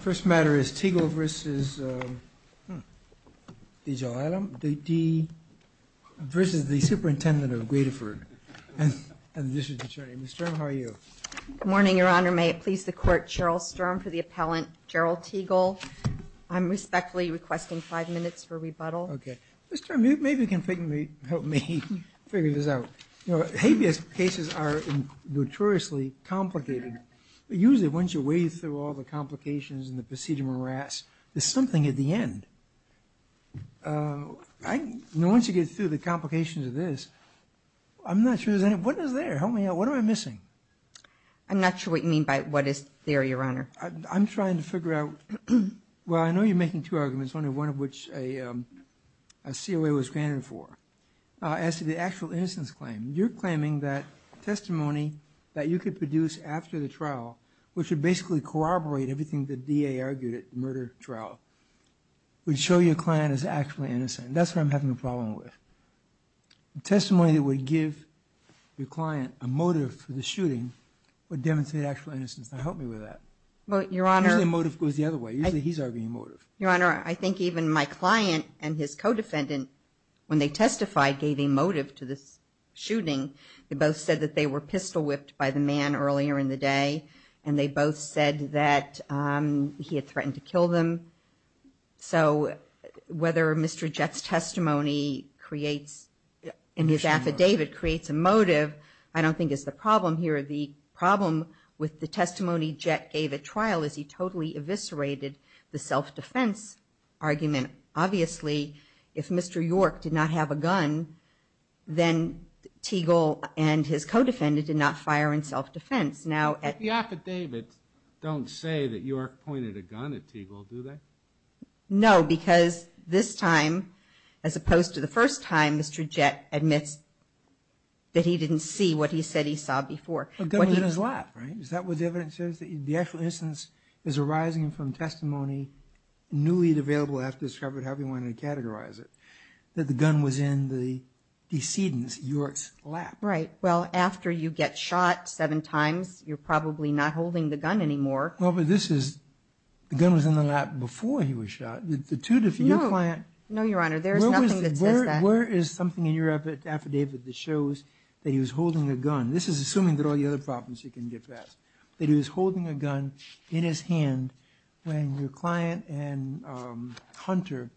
First matter is Teagle v. the superintendent of Gradoford and the district attorney. Ms. Sturm, how are you? Good morning, your honor. May it please the court. Cheryl Sturm for the appellant, Gerald Teagle. I'm respectfully requesting five minutes for rebuttal. Okay. Ms. Sturm, maybe you can help me figure this out. You know, habeas cases are notoriously complicated. Usually once you wade through all the complications and the procedure morass, there's something at the end. I know once you get through the complications of this, I'm not sure there's any, what is there? Help me out. What am I missing? I'm not sure what you mean by what is there, your honor. I'm trying to figure out, well I know you're making two arguments, only one of which a COA was granted for, as to the actual innocence claim. You're claiming that testimony that you could produce after the trial, which would basically corroborate everything the DA argued at murder trial, would show your client is actually innocent. That's what I'm having a problem with. Testimony that would give your client a motive for the shooting would demonstrate actual innocence. Now help me with that. Well, your honor. Usually the motive goes the other way. Usually he's arguing motive. Your honor, I think even my client and his co-defendant, when they testified, gave a motive to this shooting. They both said that they were pistol whipped by the man earlier in the day, and they both said that he had threatened to kill them. So whether Mr. Jett's testimony creates, in his affidavit, creates a motive, I don't think is the problem here. The problem with the testimony Jett gave at trial is he totally eviscerated the self-defense argument. Obviously, if Mr. York did not have a gun, then Teagle and his co-defendant did not fire in self-defense. The affidavits don't say that York pointed a gun at Teagle, do they? No, because this time, as opposed to the first time, Mr. Jett admits that he didn't see what he said he saw before. The gun was in his lap, right? Is that what the evidence says? That the actual innocence is arising from testimony newly available after he wanted to categorize it. That the gun was in the decedent's, York's, lap. Right. Well, after you get shot seven times, you're probably not holding the gun anymore. Well, but this is, the gun was in the lap before he was shot. The two different, your client... No, Your Honor, there's nothing that says that. Where is something in your affidavit that shows that he was holding a gun? This is assuming that all the other problems you can get past. That he was holding a gun in his hand when your client and Hunter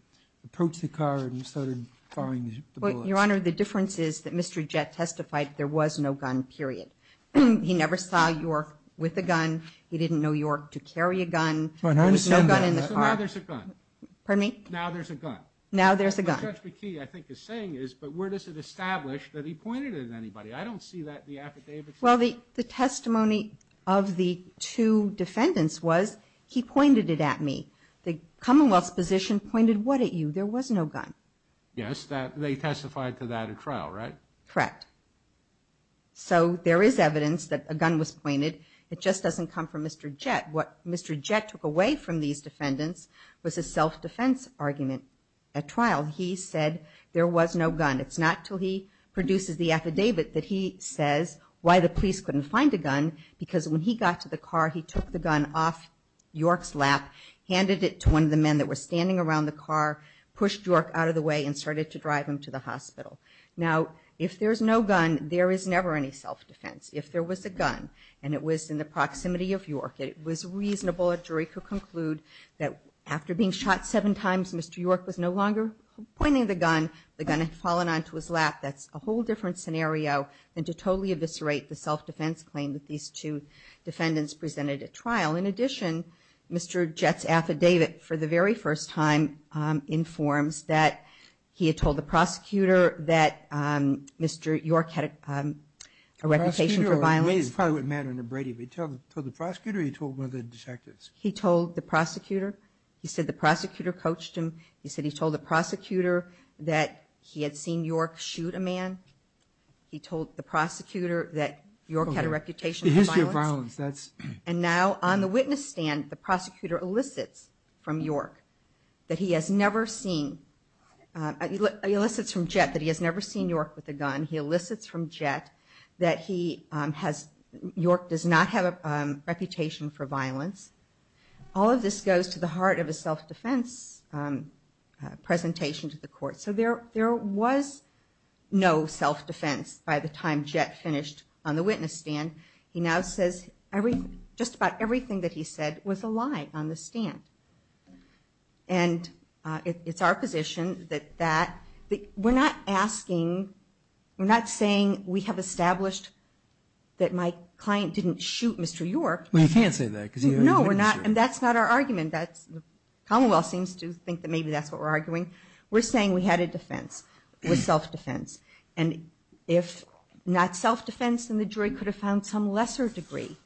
approached the car and started firing the bullets. Your Honor, the difference is that Mr. Jett testified there was no gun, period. He never saw York with a gun. He didn't know York to carry a gun. There was no gun in the car. Pardon me? Now there's a gun. Now there's a gun. Judge McKee, I think, is saying is, but where does it establish that he pointed at anybody? I don't see that in the affidavits. Well, the testimony of the two defendants was, he pointed it at me. The was no gun. Yes. They testified to that at trial, right? Correct. So there is evidence that a gun was pointed. It just doesn't come from Mr. Jett. What Mr. Jett took away from these defendants was a self-defense argument at trial. He said there was no gun. It's not until he produces the affidavit that he says why the police couldn't find a gun, because when he got to the car he took the gun off York's lap, handed it to one of the men that were standing around the car, pushed York out of the way, and started to drive him to the hospital. Now, if there's no gun, there is never any self-defense. If there was a gun and it was in the proximity of York, it was reasonable a jury could conclude that after being shot seven times, Mr. York was no longer pointing the gun. The gun had fallen onto his lap. That's a whole different scenario than to totally eviscerate the self-defense claim that these two defendants presented at trial. In addition, Mr. Jett's affidavit, for the very first time, informs that he had told the prosecutor that Mr. York had a reputation for violence. The prosecutor told the prosecutor or he told one of the detectives? He told the prosecutor. He said the prosecutor coached him. He said he told the prosecutor that he had seen York shoot a man. He told the prosecutor that York had a reputation for violence. And now, on the witness stand, the prosecutor elicits from York that he has never seen, he elicits from Jett that he has never seen York with a gun. He elicits from Jett that he has, York does not have a reputation for violence. All of this goes to the heart of a self-defense presentation to the court. So there was no self-defense by the time Jett finished on the witness stand. He now says just about everything that he said was a lie on the stand. And it's our position that that, we're not asking, we're not saying we have established that my client didn't shoot Mr. York. Well, you can't say that because you... No, we're not, and that's not our argument. That's, the commonwealth seems to think that maybe that's what we're arguing. We're saying we had a defense, was self-defense. And if not self-defense, then the jury could have found some lesser degree.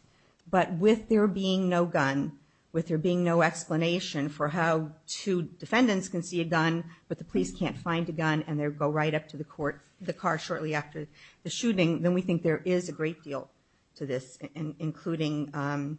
But with there being no gun, with there being no explanation for how two defendants can see a gun, but the police can't find a gun and they go right up to the court, the car shortly after the shooting, then we think there is a great deal to this, including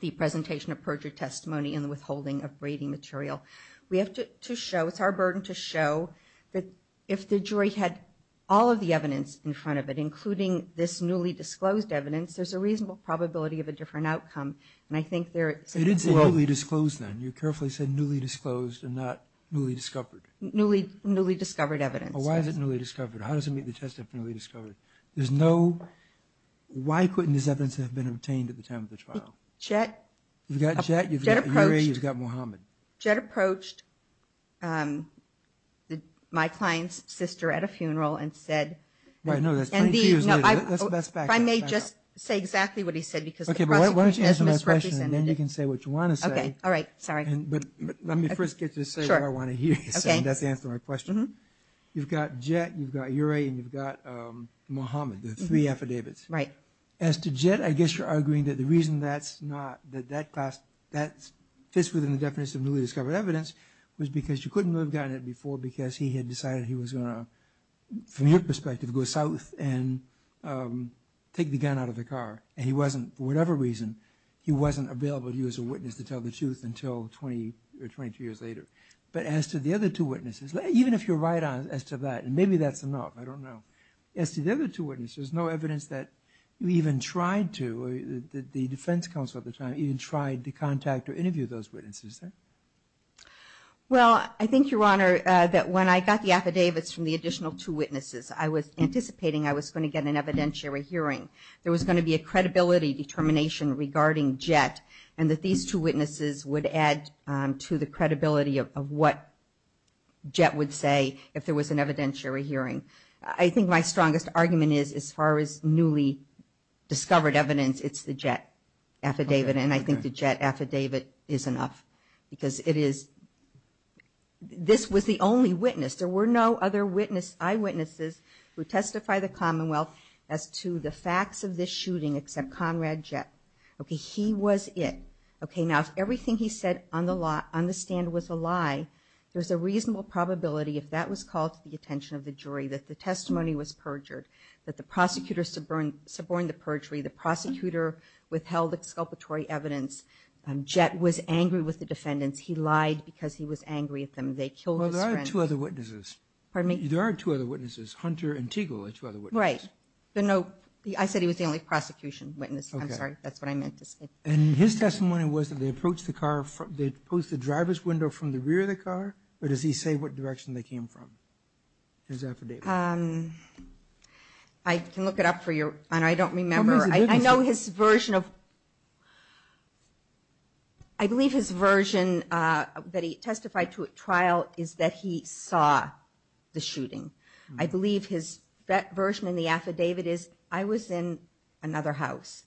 the presentation of perjured testimony and the withholding of braiding material. We have to show, it's our burden to show that if the jury had all of the evidence in front of it, including this newly disclosed evidence, there's a reasonable probability of a different outcome. And I think there... You didn't say newly disclosed then. You carefully said newly disclosed and not newly discovered. Newly discovered evidence. Well, why is it newly discovered? How does it meet the test of newly discovered? There's no... Why couldn't this evidence have been obtained at the time of the trial? Jet... You've got Jet, you've got Murray, you've got Muhammad. Jet approached my client's sister at a funeral and said... Right, no, that's 22 years later. Let's back that up. If I may just say exactly what he said, because the prosecution has misrepresented it. Okay, but why don't you answer my question, and then you can say what you want to say. Okay, all right. Sorry. But let me first get to say what I want to hear you say, and that's the answer to my question. You've got Jet, you've got Murray, and you've got Muhammad, the three affidavits. Right. As to Jet, I guess you're arguing that the reason that's not, that that class, that fits within the definition of newly discovered evidence, was because you couldn't have gotten it before because he had decided he was going to, from your perspective, go south and take the gun out of the car. And he wasn't, for whatever reason, he wasn't available to you as a witness to tell the truth until 20 or 22 years later. But as to the other two witnesses, even if you're right as to that, and maybe that's enough, I don't know. As to the other two witnesses, there's no evidence that you even tried to, the defense counsel at the time, even tried to contact or interview those witnesses. Well, I think, Your Honor, that when I got the affidavits from the additional two witnesses, I was anticipating I was going to get an evidentiary hearing. There was going to be a credibility determination regarding Jet, and that these two witnesses would add to the credibility of what Jet would say if there was an evidentiary hearing. I think my strongest argument is, as far as newly discovered evidence, it's the Jet affidavit, and I think the Jet affidavit is enough. Because it is, this was the only witness. There were no other eyewitnesses who testify the Commonwealth as to the facts of this shooting except Conrad Jet. Okay, he was it. Okay, now if everything he said on the stand was a lie, there's a reasonable probability, if that was called to the attention of the jury, that the testimony was perjured, that the prosecutor suborned the perjury, the prosecutor withheld exculpatory evidence, Jet was angry with the defendants, he lied because he was angry at them, they killed his friend. Well, there are two other witnesses. Hunter and Tegel are two other witnesses. Right, but no, I said he was the only prosecution witness. I'm sorry, that's what I meant to say. And his testimony was that they approached the car, they posed the driver's window from the rear of the car, or does he say what direction they came from, his affidavit? I can look it up for you, and I don't remember. I know his version of, I believe his version that he testified to at trial is that he saw the shooting. I believe his version in the affidavit is, I was in another house.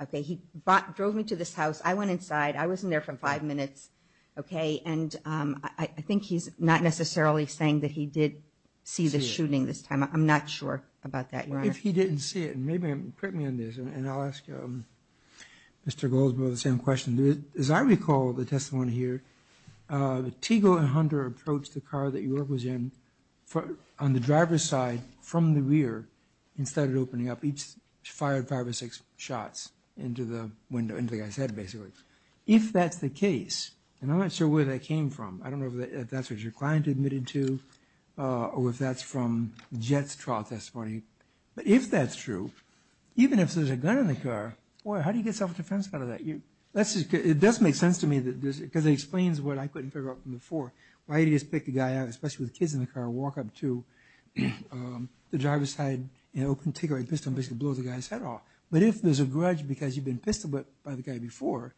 Okay, he drove me to this house, I went inside, I wasn't there for five minutes, okay, and I think he's not necessarily saying that he did see the shooting this time. I'm not sure about that, Your Honor. If he didn't see it, and maybe, put me on this, and I'll ask Mr. Goldsboro the same question. As I recall the testimony here, Tegel and Hunter approached the car that York was in on the driver's side from the rear and started opening up, each fired five or six shots into the guy's head, basically. If that's the case, and I'm not sure where that came from, I don't know if that's what your client admitted to, or if that's from Jett's trial testimony, but if that's true, even if there's a gun in the car, how do you get self-defense out of that? It does make sense to me, because it explains what I couldn't figure out from before. Why did he just pick the guy up, especially with kids in the car, walk up to the driver's side and open, take a pistol and basically blow the guy's head off. But if there's a grudge because you've been pistol-whipped by the guy before,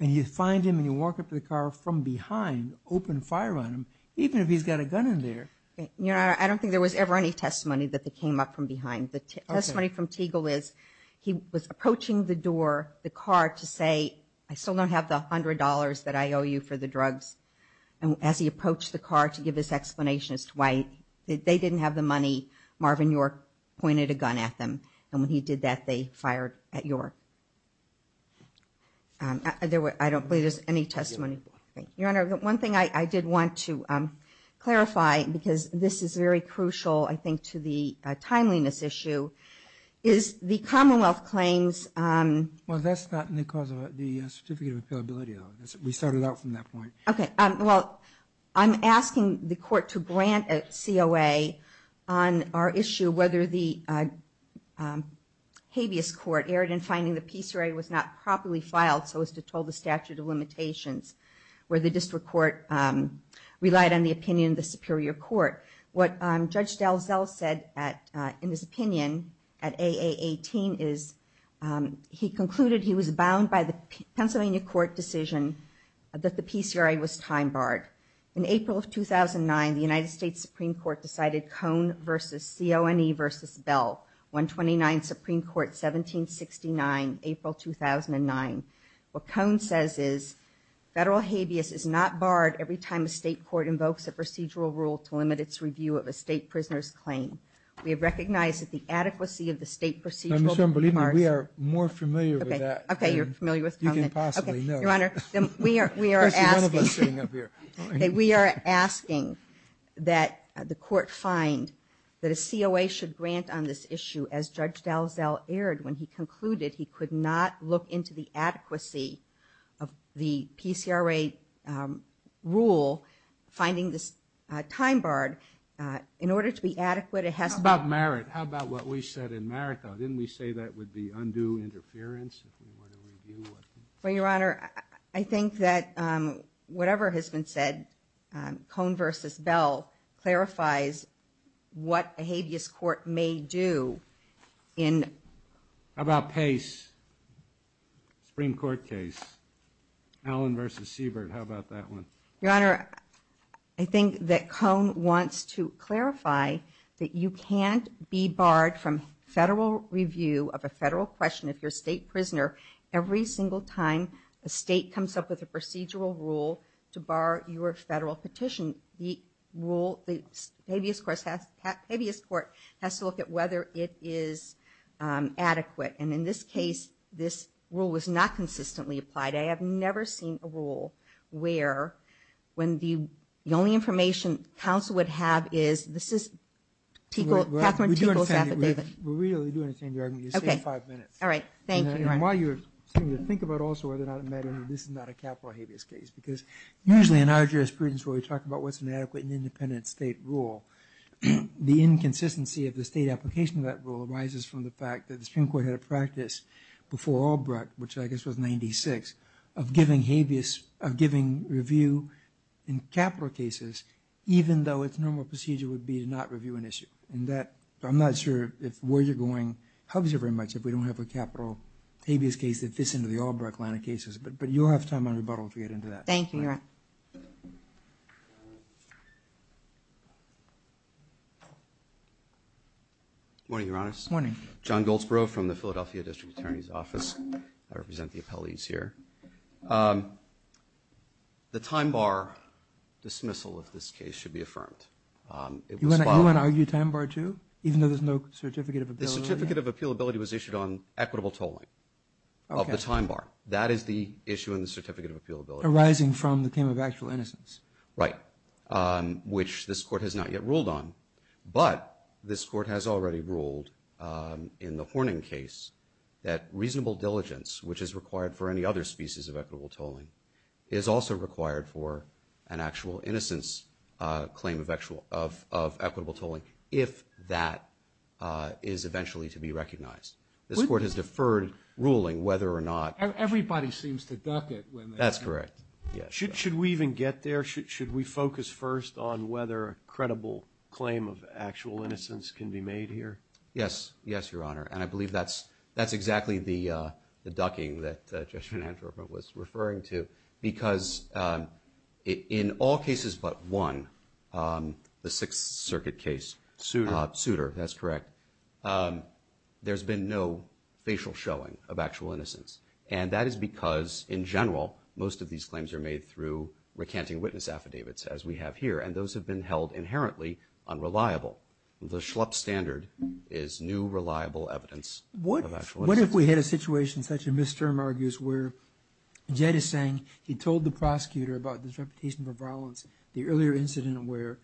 and you find him and you walk up to the car from behind, open fire on him, even if he's got a gun there. I don't think there was ever any testimony that they came up from behind. The testimony from Teagle is he was approaching the door, the car, to say, I still don't have the $100 that I owe you for the drugs. And as he approached the car to give his explanation as to why they didn't have the money, Marvin York pointed a gun at them, and when he did that, they fired at York. I don't believe there's any testimony. Your Honor, one thing I did want to clarify, because this is very crucial, I think, to the timeliness issue, is the Commonwealth claims... Well, that's not because of the Certificate of Appealability. We started out from that point. Okay, well, I'm asking the Court to grant a COA on our issue whether the habeas court erred in finding the PCRA was not properly filed so as to toll the statute of limitations, where the District Court relied on the opinion of the Superior Court. What Judge DelZell said in his opinion at AA18 is he concluded he was bound by the Pennsylvania Court decision that the PCRA was time-barred. In April of 2009, the United States Supreme Court decided Cone v. CONE v. Bell, 129th Supreme Court, 1769, April 2009. What Cone says is federal habeas is not barred every time a state court invokes a procedural rule to limit its review of a state prisoner's claim. We have recognized that the adequacy of the state procedural... We are more familiar with that than you can possibly know. We are asking that the Court find that a COA should grant on this issue as Judge DelZell erred when he concluded he could not look into the adequacy of the PCRA rule finding this time-barred in order to be adequate... How about merit? How about what we said in merit though? Didn't we say that would be undue interference? Well, Your Honor, I think that whatever has been said, Cone v. Bell clarifies what a habeas court may do in... How about Pace? Supreme Court case. Allen v. Siebert. How about that one? Your Honor, I think that Cone wants to clarify that you can't be barred from federal review of a federal question of your state prisoner every single time a state comes up with a procedural rule to bar your federal petition. The habeas court has to look at whether it is adequate. In this case, this rule was not consistently applied. I have never seen a rule where the only information counsel would have is... We are really doing the same argument. You have five minutes. While you are saying to think about also whether or not the inconsistency of the state application of that rule arises from the fact that the Supreme Court had a practice before Albrook, which I guess was 96, of giving habeas, of giving review in capital cases even though its normal procedure would be to not review an issue. I am not sure where you are going. It helps you very much if we don't have a capital habeas case that fits into the Albrook line of cases. But you will have time and rebuttal to get into that. Good morning, Your Honor. Good morning. John Goldsbrough from the Philadelphia District Attorney's Office. I represent the appellees here. The time bar dismissal of this case should be affirmed. You want to argue time bar too, even though there is no certificate of appealability. Arising from the claim of actual innocence. Right. Which this Court has not yet ruled on. But this Court has already ruled in the Horning case that reasonable diligence, which is required for any other species of equitable tolling, is also required for an actual innocence claim of equitable tolling if that is eventually to be recognized. This Court has deferred ruling whether or not. Everybody seems to duck it. That's correct. Should we even get there? Should we focus first on whether a credible claim of actual innocence can be made here? Yes. Yes, Your Honor. And I believe that's exactly the ducking that Judge Van Antropen was referring to. Because in all cases but one, the Sixth Circuit case, Souter, that's correct, there's been no facial showing of actual innocence. And that is because in general, most of these claims are made through recanting witness affidavits as we have here. And those have been held inherently unreliable. The schlup standard is new reliable evidence of actual innocence. What if we had a situation such as where Jed is saying he told the prosecutor about his reputation for violence, the earlier incident where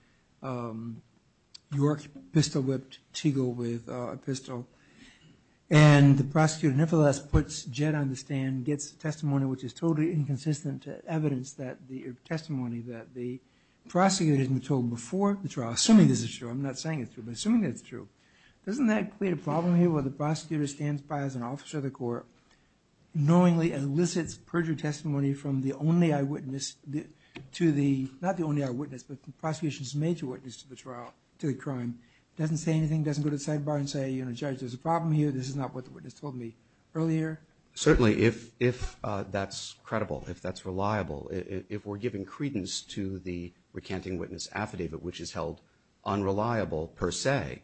York pistol-whipped Tegel with a pistol and the prosecutor nevertheless puts Jed on the stand, gets testimony which is totally inconsistent to evidence that the testimony that the prosecutor had been told before the trial, assuming this is true, I'm not saying it's true, but assuming it's true, doesn't that create a problem here where the prosecutor stands by as an officer of the court knowingly elicits perjury testimony from the only eyewitness to the, not the only eyewitness but the prosecution's major witness to the trial, to the crime, doesn't say anything, doesn't go to the sidebar and say, you know, Judge, there's a problem here. This is not what the witness told me earlier. Certainly, if that's credible, if that's reliable, if we're giving credence to the recanting witness affidavit which is held unreliable per se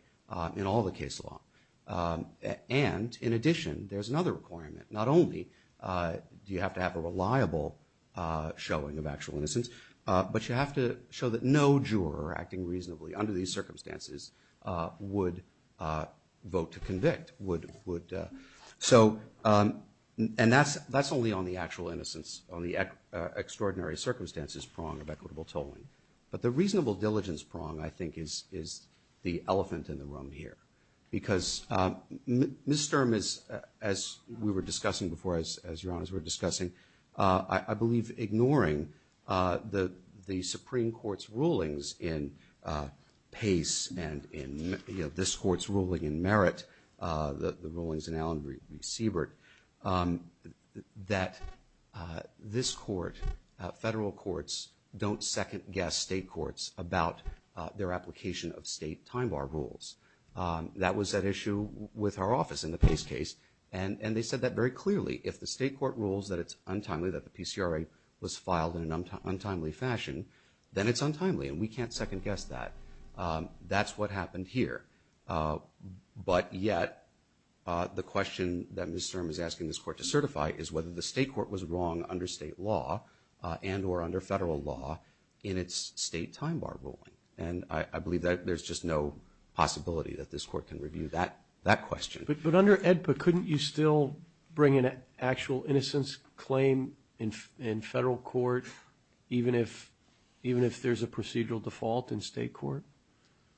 in all the case law. And, in addition, there's another requirement. Not only do you have to have a reliable showing of actual innocence, but you have to show that no juror acting reasonably under these circumstances would vote to convict. So, and that's only on the actual innocence, on the extraordinary circumstances prong of equitable tolling. But the reasonable diligence prong, I think, is the elephant in the room here. Because Ms. Sturm is, as we were discussing before, as Your Honors were discussing, I believe ignoring the Supreme Court's rulings in Allen v. Siebert, that this court, federal courts, don't second guess state courts about their application of state time bar rules. That was at issue with our office in the Pace case and they said that very clearly. If the state court rules that it's untimely, that the PCRA was filed in an untimely fashion, then it's untimely and we can't second guess that. That's what happened here. But yet, the question that Ms. Sturm is asking this court to certify is whether the state court was wrong under state law and or under federal law in its state time bar ruling. And I believe that there's just no possibility that this court can review that question. But under AEDPA, couldn't you still bring in an actual innocence claim in federal court, even if there's a procedural default in state court?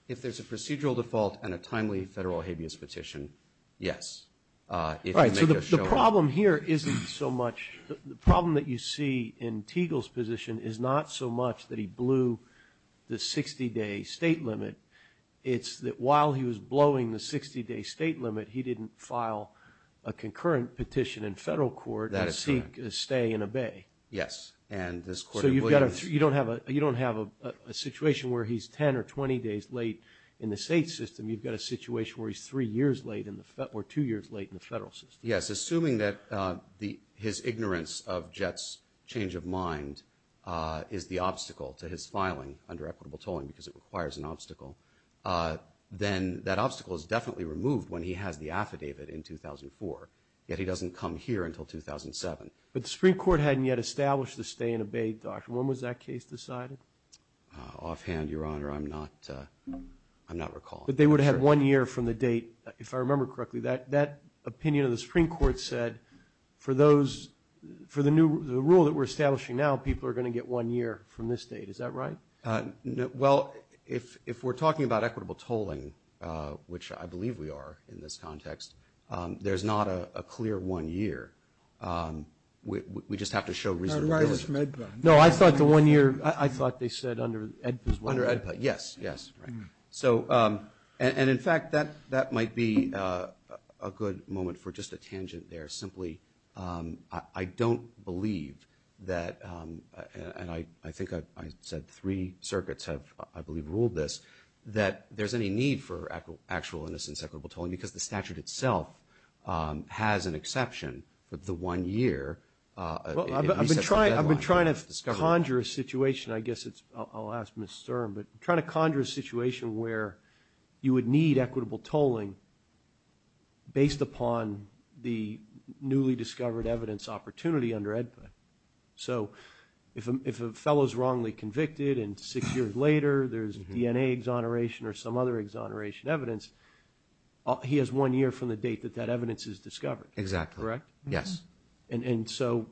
If there's a procedural default and a timely federal habeas petition, yes. Right, so the problem here isn't so much, the problem that you see in Teagle's position is not so much that he blew the 60 day state limit, it's that while he was blowing the 60 day state limit, he didn't file a concurrent petition in federal court. That is correct. And seek a stay and obey. Yes. So you don't have a situation where he's 10 or 20 days late in the state system, you've got a situation where he's three years late or two years late in the federal system. Yes, assuming that his ignorance of Jett's change of mind is the obstacle to his filing under equitable tolling, because it requires an obstacle, then that obstacle is definitely removed when he has the affidavit in 2004. Yet he doesn't come here until 2007. But the Supreme Court hadn't yet established the stay and obey doctrine. When was that case decided? Offhand, Your Honor, I'm not recalling. But they would have had one year from the date, if I remember correctly, that opinion of the Supreme Court said, for the rule that we're establishing now, people are going to get one year from this date. Is that right? Well, if we're talking about equitable tolling, which I believe we are in this context, there's not a clear one year. We just have to show reasonableness. No, I thought the one year, I thought they said under Yes, yes. So and in fact, that that might be a good moment for just a tangent there. Simply, I don't believe that. And I think I said three circuits have, I believe, ruled this, that there's any need for actual innocence equitable tolling because the statute itself has an exception for the one year. I've been trying. I've been trying to conjure a situation. I guess it's, I'll ask Mr. Sturm, but trying to conjure a situation where you would need equitable tolling based upon the newly discovered evidence opportunity under EDPA. So if a fellow is wrongly convicted and six years later, there's DNA exoneration or some other exoneration evidence, he has one year from the date that that evidence is discovered. Exactly. Correct? Yes. And so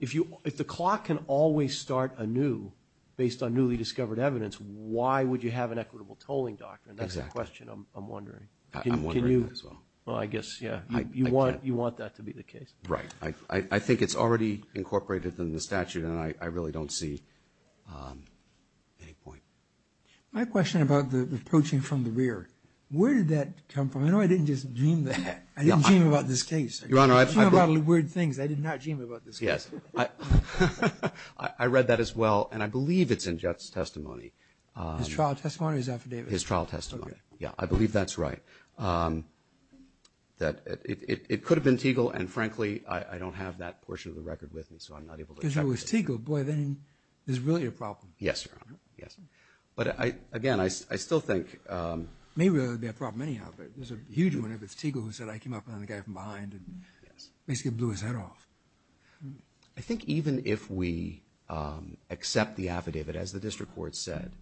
if you, if the clock can always start anew based on newly discovered evidence, why would you have an equitable tolling doctrine? That's the question I'm wondering. I'm wondering as well. Well, I guess, yeah, you want, you want that to be the case. Right. I think it's already incorporated in the statute and I really don't see any point. My question about the approaching from the rear. Where did that come from? I know I didn't just dream that. I didn't dream about this case. Your Honor, I've heard a lot of weird things. I did not dream about this case. Yes. I read that as well. And I believe it's in Jett's testimony. His trial testimony or his affidavit? His trial testimony. Yeah, I believe that's right. That it could have been Tegel. And frankly, I don't have that portion of the record with me. So I'm not able to check. If it was Tegel, boy, then there's really a problem. Yes, Your Honor. Yes. But again, I still think. It may really be a problem anyhow, but there's a huge one if it's Tegel who said, I came up behind the guy from behind and basically blew his head off. I think even if we accept the affidavit, as the district court said,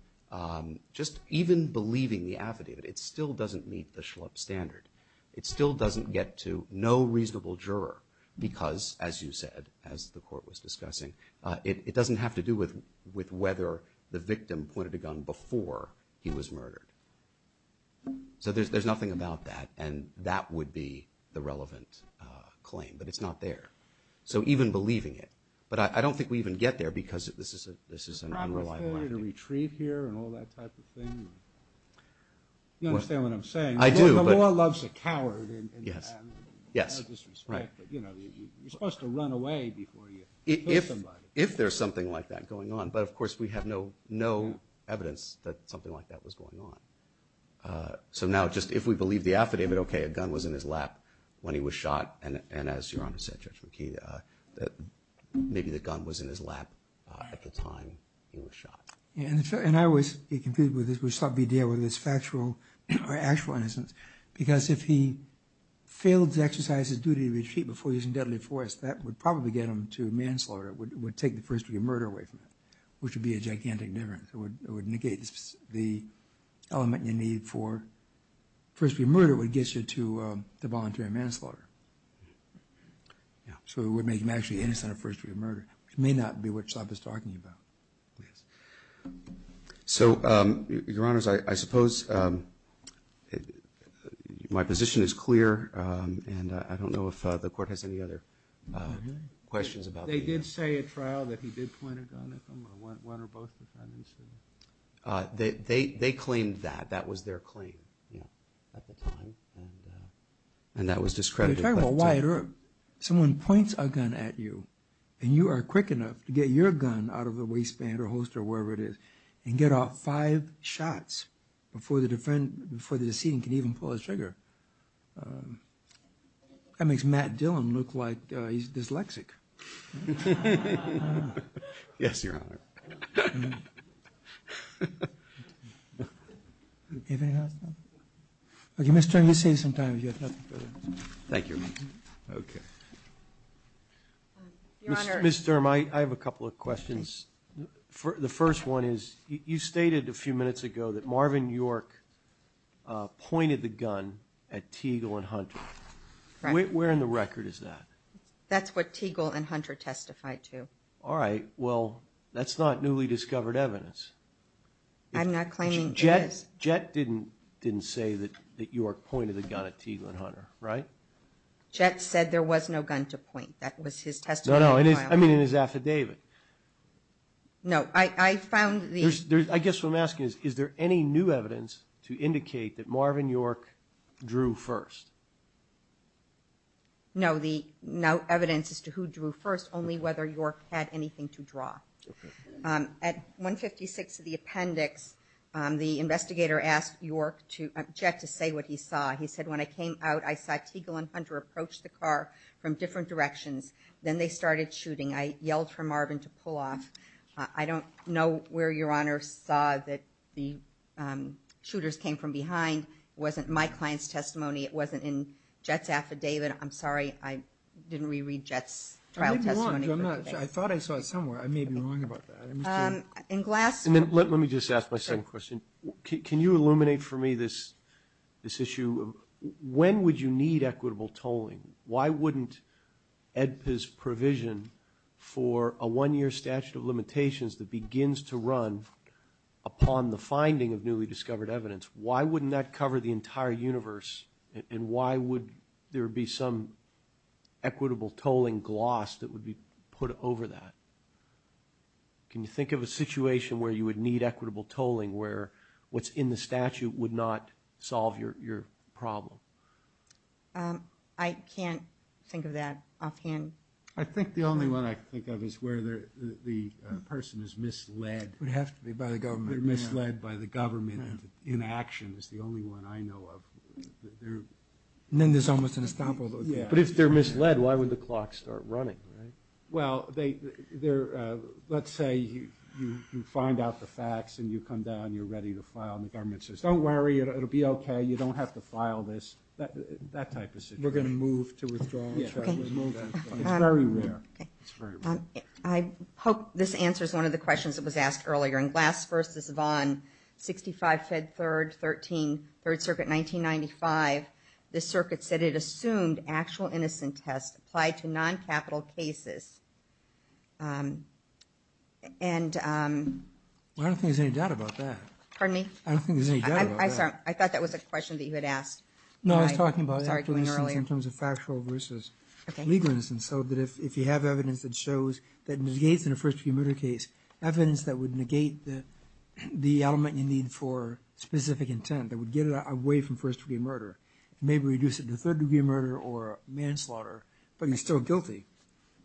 just even believing the affidavit, it still doesn't meet the Schlupp standard. It still doesn't get to no reasonable juror because, as you said, as the court was discussing, it doesn't have to do with whether the victim pointed a gun before he was murdered. So there's nothing about that. And that would be the relevant claim. But it's not there. So even believing it. But I don't think we even get there because this is an unreliable affidavit. You understand what I'm saying? I do. The law loves a coward. Yes. You're supposed to run away before you hurt somebody. If there's something like that going on. But, of course, we have no evidence that something like that was going on. So now just if we believe the affidavit, OK, a gun was in his lap when he was shot. And as Your Honor said, Judge McKee, maybe the gun was in his lap at the time he was shot. And I always get confused with this. Would Schlupp be dealing with this factual or actual innocence? Because if he failed to exercise his duty to retreat before he was in deadly force, that would probably get him to manslaughter. It would take the first degree murder away from him, which would be a gigantic difference. It would negate the element you need for first degree murder. It would get you to the voluntary manslaughter. So it would make him actually innocent of first degree murder. It may not be what Schlupp is talking about. So, Your Honors, I suppose my position is clear. And I don't know if the Court has any other questions about this. They did say at trial that he did point a gun at them or one or both defendants. They claimed that. That was their claim at the time. And that was discredited. But you're talking about Wyatt Earp. Someone points a gun at you, and you are quick enough to get your gun out of the waistband or holster or wherever it is, and get off five shots before the decedent can even pull the trigger. That makes Matt Dillon look like he's dyslexic. Yes, Your Honor. Okay, Mr. Dermot, you have time. Mr. Dermot, I have a couple of questions. The first one is, you stated a few minutes ago that Marvin York pointed the gun at Teagle and Hunter. Where in the record is that? That's what Teagle and Hunter testified to. All right. Well, that's not newly discovered evidence. I'm not claiming it is. Jett didn't say that York pointed a gun at Teagle and Hunter, right? Jett said there was no gun to point. That was his testimony at trial. No, no, I mean in his affidavit. No, I found the... The investigator asked Jett to say what he saw. He said, when I came out, I saw Teagle and Hunter approach the car from different directions. Then they started shooting. I yelled for Marvin to pull off. I don't know where Your Honor saw that the shooters came from behind. It wasn't my client's testimony. It wasn't in Jett's affidavit. I'm sorry, I didn't reread Jett's trial testimony. Let me just ask my second question. Can you illuminate for me this issue? When would you need equitable tolling? Why wouldn't AEDPA's provision for a one-year statute of limitations that begins to run upon the finding of newly discovered evidence, why wouldn't that cover the entire universe, and why would there be some equitable tolling gloss that would be put over that? Can you think of a situation where you would need equitable tolling, where what's in the statute would not solve your problem? I can't think of that offhand. I think the only one I can think of is where the person is misled. They're misled by the government, and inaction is the only one I know of. But if they're misled, why would the clock start running? Let's say you find out the facts and you come down, you're ready to file, and the government says, don't worry, it'll be okay, you don't have to file this, that type of situation. I hope this answers one of the questions that was asked earlier. In Glass v. Vaughn, 65 Fed Third, Third Circuit, 1995, the circuit said it assumed actual innocent test applied to non-capital cases. I don't think there's any doubt about that. I thought that was a question that you had asked. No, I was talking about actual innocence in terms of factual versus legal innocence, so that if you have evidence that shows that it negates in a first-degree murder case, evidence that would negate the element you need for specific intent, that would get it away from first-degree murder, maybe reduce it to third-degree murder or manslaughter, but you're still guilty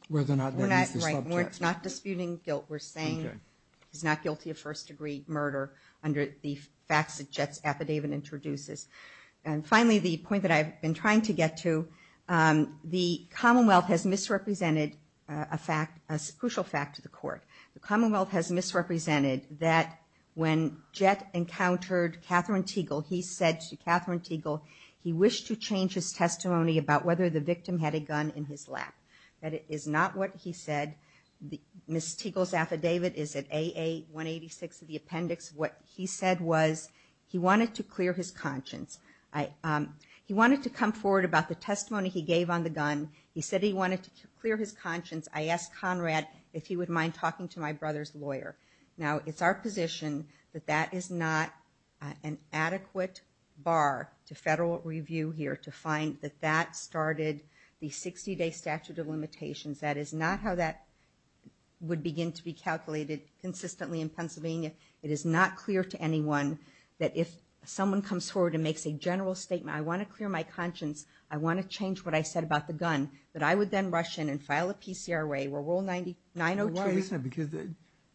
whether or not that is the subject. We're not disputing guilt, we're saying he's not guilty of first-degree murder under the facts that Jett's affidavit introduces. And finally, the point that I've been trying to get to, the Commonwealth has misrepresented a crucial fact to the Court. The Commonwealth has misrepresented that when Jett encountered Katherine Teagle, he said to Katherine Teagle he wished to change his testimony about whether the victim had a gun in his lap. That is not what he said. Ms. Teagle's affidavit is at AA-186 of the appendix. What he said was he wanted to clear his conscience. He wanted to come forward about the testimony he gave on the gun. He said he wanted to clear his conscience. I asked Conrad if he would mind talking to my brother's lawyer. Now, it's our position that that is not an adequate bar to federal review here, to find that that started the 60-day statute of limitations. That is not how that would begin to be calculated consistently in Pennsylvania. It is not clear to anyone that if someone comes forward and makes a general statement, I want to clear my conscience, I want to change what I said about the gun, that I would then rush in and file a PCRA or Rule 90-902.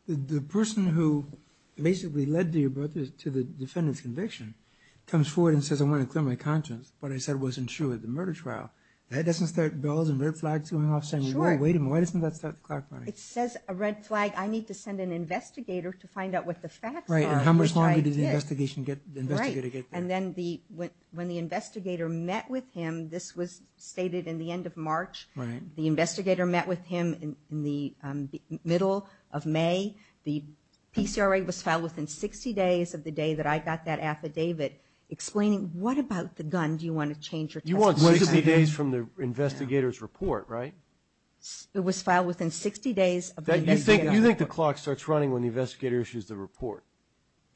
The person who basically led your brother to the defendant's conviction comes forward and says I want to clear my conscience. What I said wasn't true at the murder trial. That doesn't start bells and red flags going off saying, wait a minute, why doesn't that start the clock running? It says a red flag, I need to send an investigator to find out what the facts are. When the investigator met with him, this was stated in the end of March. The investigator met with him in the middle of May. The PCRA was filed within 60 days of the day that I got that affidavit explaining, what about the gun do you want to change your testimony? You want 60 days from the investigator's report, right? It was filed within 60 days of the investigator's report. You think the clock starts running when the investigator issues the report?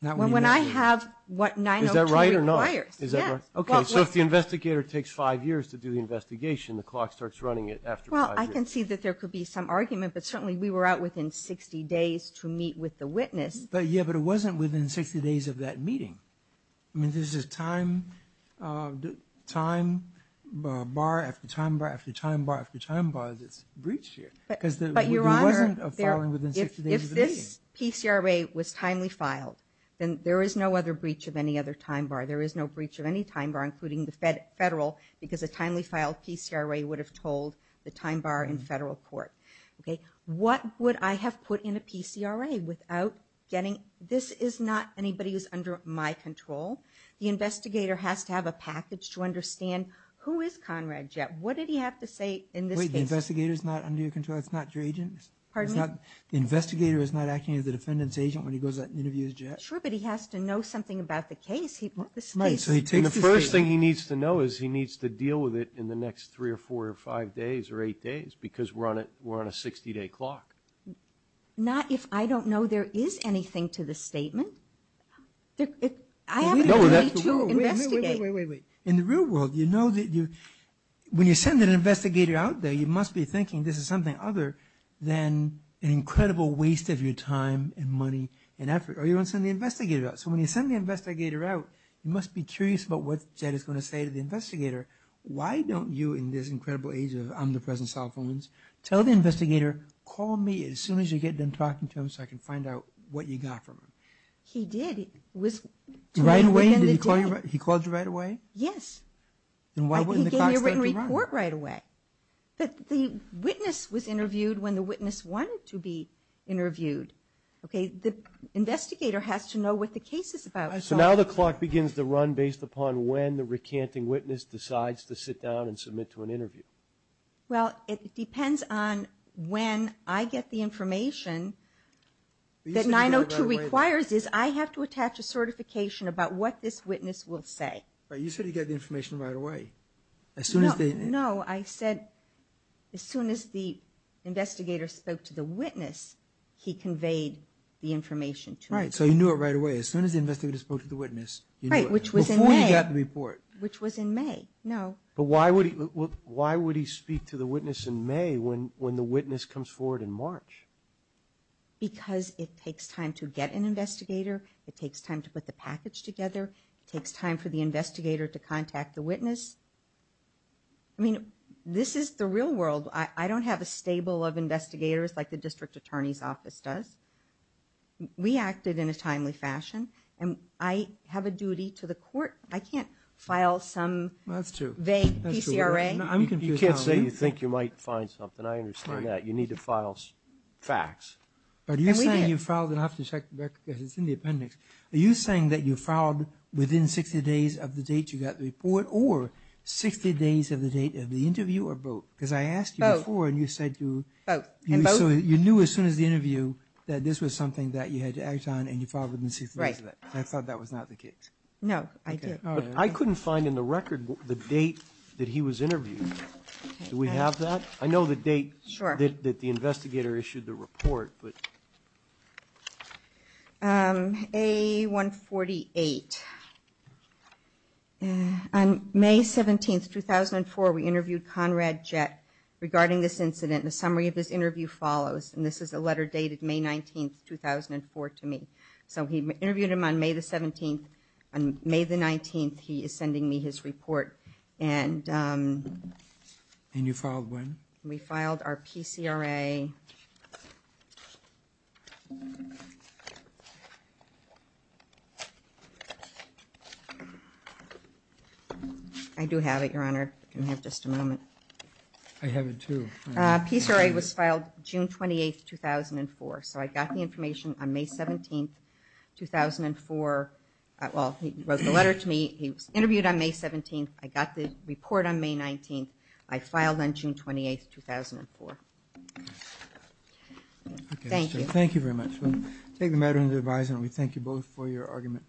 When I have what 902 requires. If the investigator takes five years to do the investigation, the clock starts running after five years. I can see that there could be some argument, but certainly we were out within 60 days to meet with the witness. But it wasn't within 60 days of that meeting. There's a time bar after time bar after time bar after time bar that's breached here. If this PCRA was timely filed, then there is no other breach of any other time bar. There is no breach of any time bar, including the federal, because a timely filed PCRA would have told the time bar in federal court. What would I have put in a PCRA without getting... This is not anybody who's under my control. The investigator has to have a package to understand who is Conrad Jett. What did he have to say in this case? Wait, the investigator's not under your control? That's not your agent? Pardon me? The investigator is not acting as the defendant's agent when he goes out and interviews Jett? Sure, but he has to know something about the case. The first thing he needs to know is he needs to deal with it in the next three or four or five days or eight days because we're on a 60-day clock. Not if I don't know there is anything to the statement. I have an attorney to investigate. Wait, wait, wait, wait. In the real world, you know that when you send an investigator out there, you must be thinking this is something other than an incredible waste of your time and money and effort. Or you're going to send the investigator out. So when you send the investigator out, you must be curious about what Jett is going to say to the investigator. Why don't you, in this incredible age of omnipresent cell phones, tell the investigator, call me as soon as you get done talking to him so I can find out what you got from him? He did. Right away? He called you right away? Yes. Then why wouldn't the clock start to run? He gave me a written report right away. The witness was interviewed when the witness wanted to be interviewed. Okay? The investigator has to know what the case is about. So now the clock begins to run based upon when the recanting witness decides to sit down and submit to an interview. Well, it depends on when I get the information that 902 requires. I have to attach a certification about what this witness will say. You said he got the information right away. No, I said as soon as the investigator spoke to the witness, he conveyed the information to me. Right, so you knew it right away. As soon as the investigator spoke to the witness, you knew it. Right, which was in May. Before you got the report. Which was in May. No. But why would he speak to the witness in May when the witness comes forward in March? Because it takes time to get an investigator. It takes time to put the package together. It takes time for the investigator to contact the witness. I mean, this is the real world. I don't have a stable of investigators like the district attorney's office does. We acted in a timely fashion, and I have a duty to the court. I can't file some vague PCRA. You can't say you think you might find something. I understand that. You need to file facts. But you're saying you filed, and I have to check the record because it's in the appendix. Are you saying that you filed within 60 days of the date you got the report or 60 days of the date of the interview or both? Because I asked you before, and you said you knew as soon as the interview that this was something that you had to act on, and you filed within 60 days of that. I thought that was not the case. No, I did. I couldn't find in the record the date that he was interviewed. Do we have that? I know the date that the investigator issued the report. A-148. On May 17, 2004, we interviewed Conrad Jett regarding this incident. The summary of this interview follows, and this is a letter dated May 19, 2004, to me. So he interviewed him on May the 17th. On May the 19th, he is sending me his report. And you filed when? We filed our PCRA. I do have it, Your Honor. Can I have just a moment? I have it, too. PCRA was filed June 28, 2004. So I got the information on May 17, 2004. Well, he wrote the letter to me. He was interviewed on May 17th. I got the report on May 19th. I filed on June 28, 2004. Thank you. Thank you very much. We thank you both for your argument.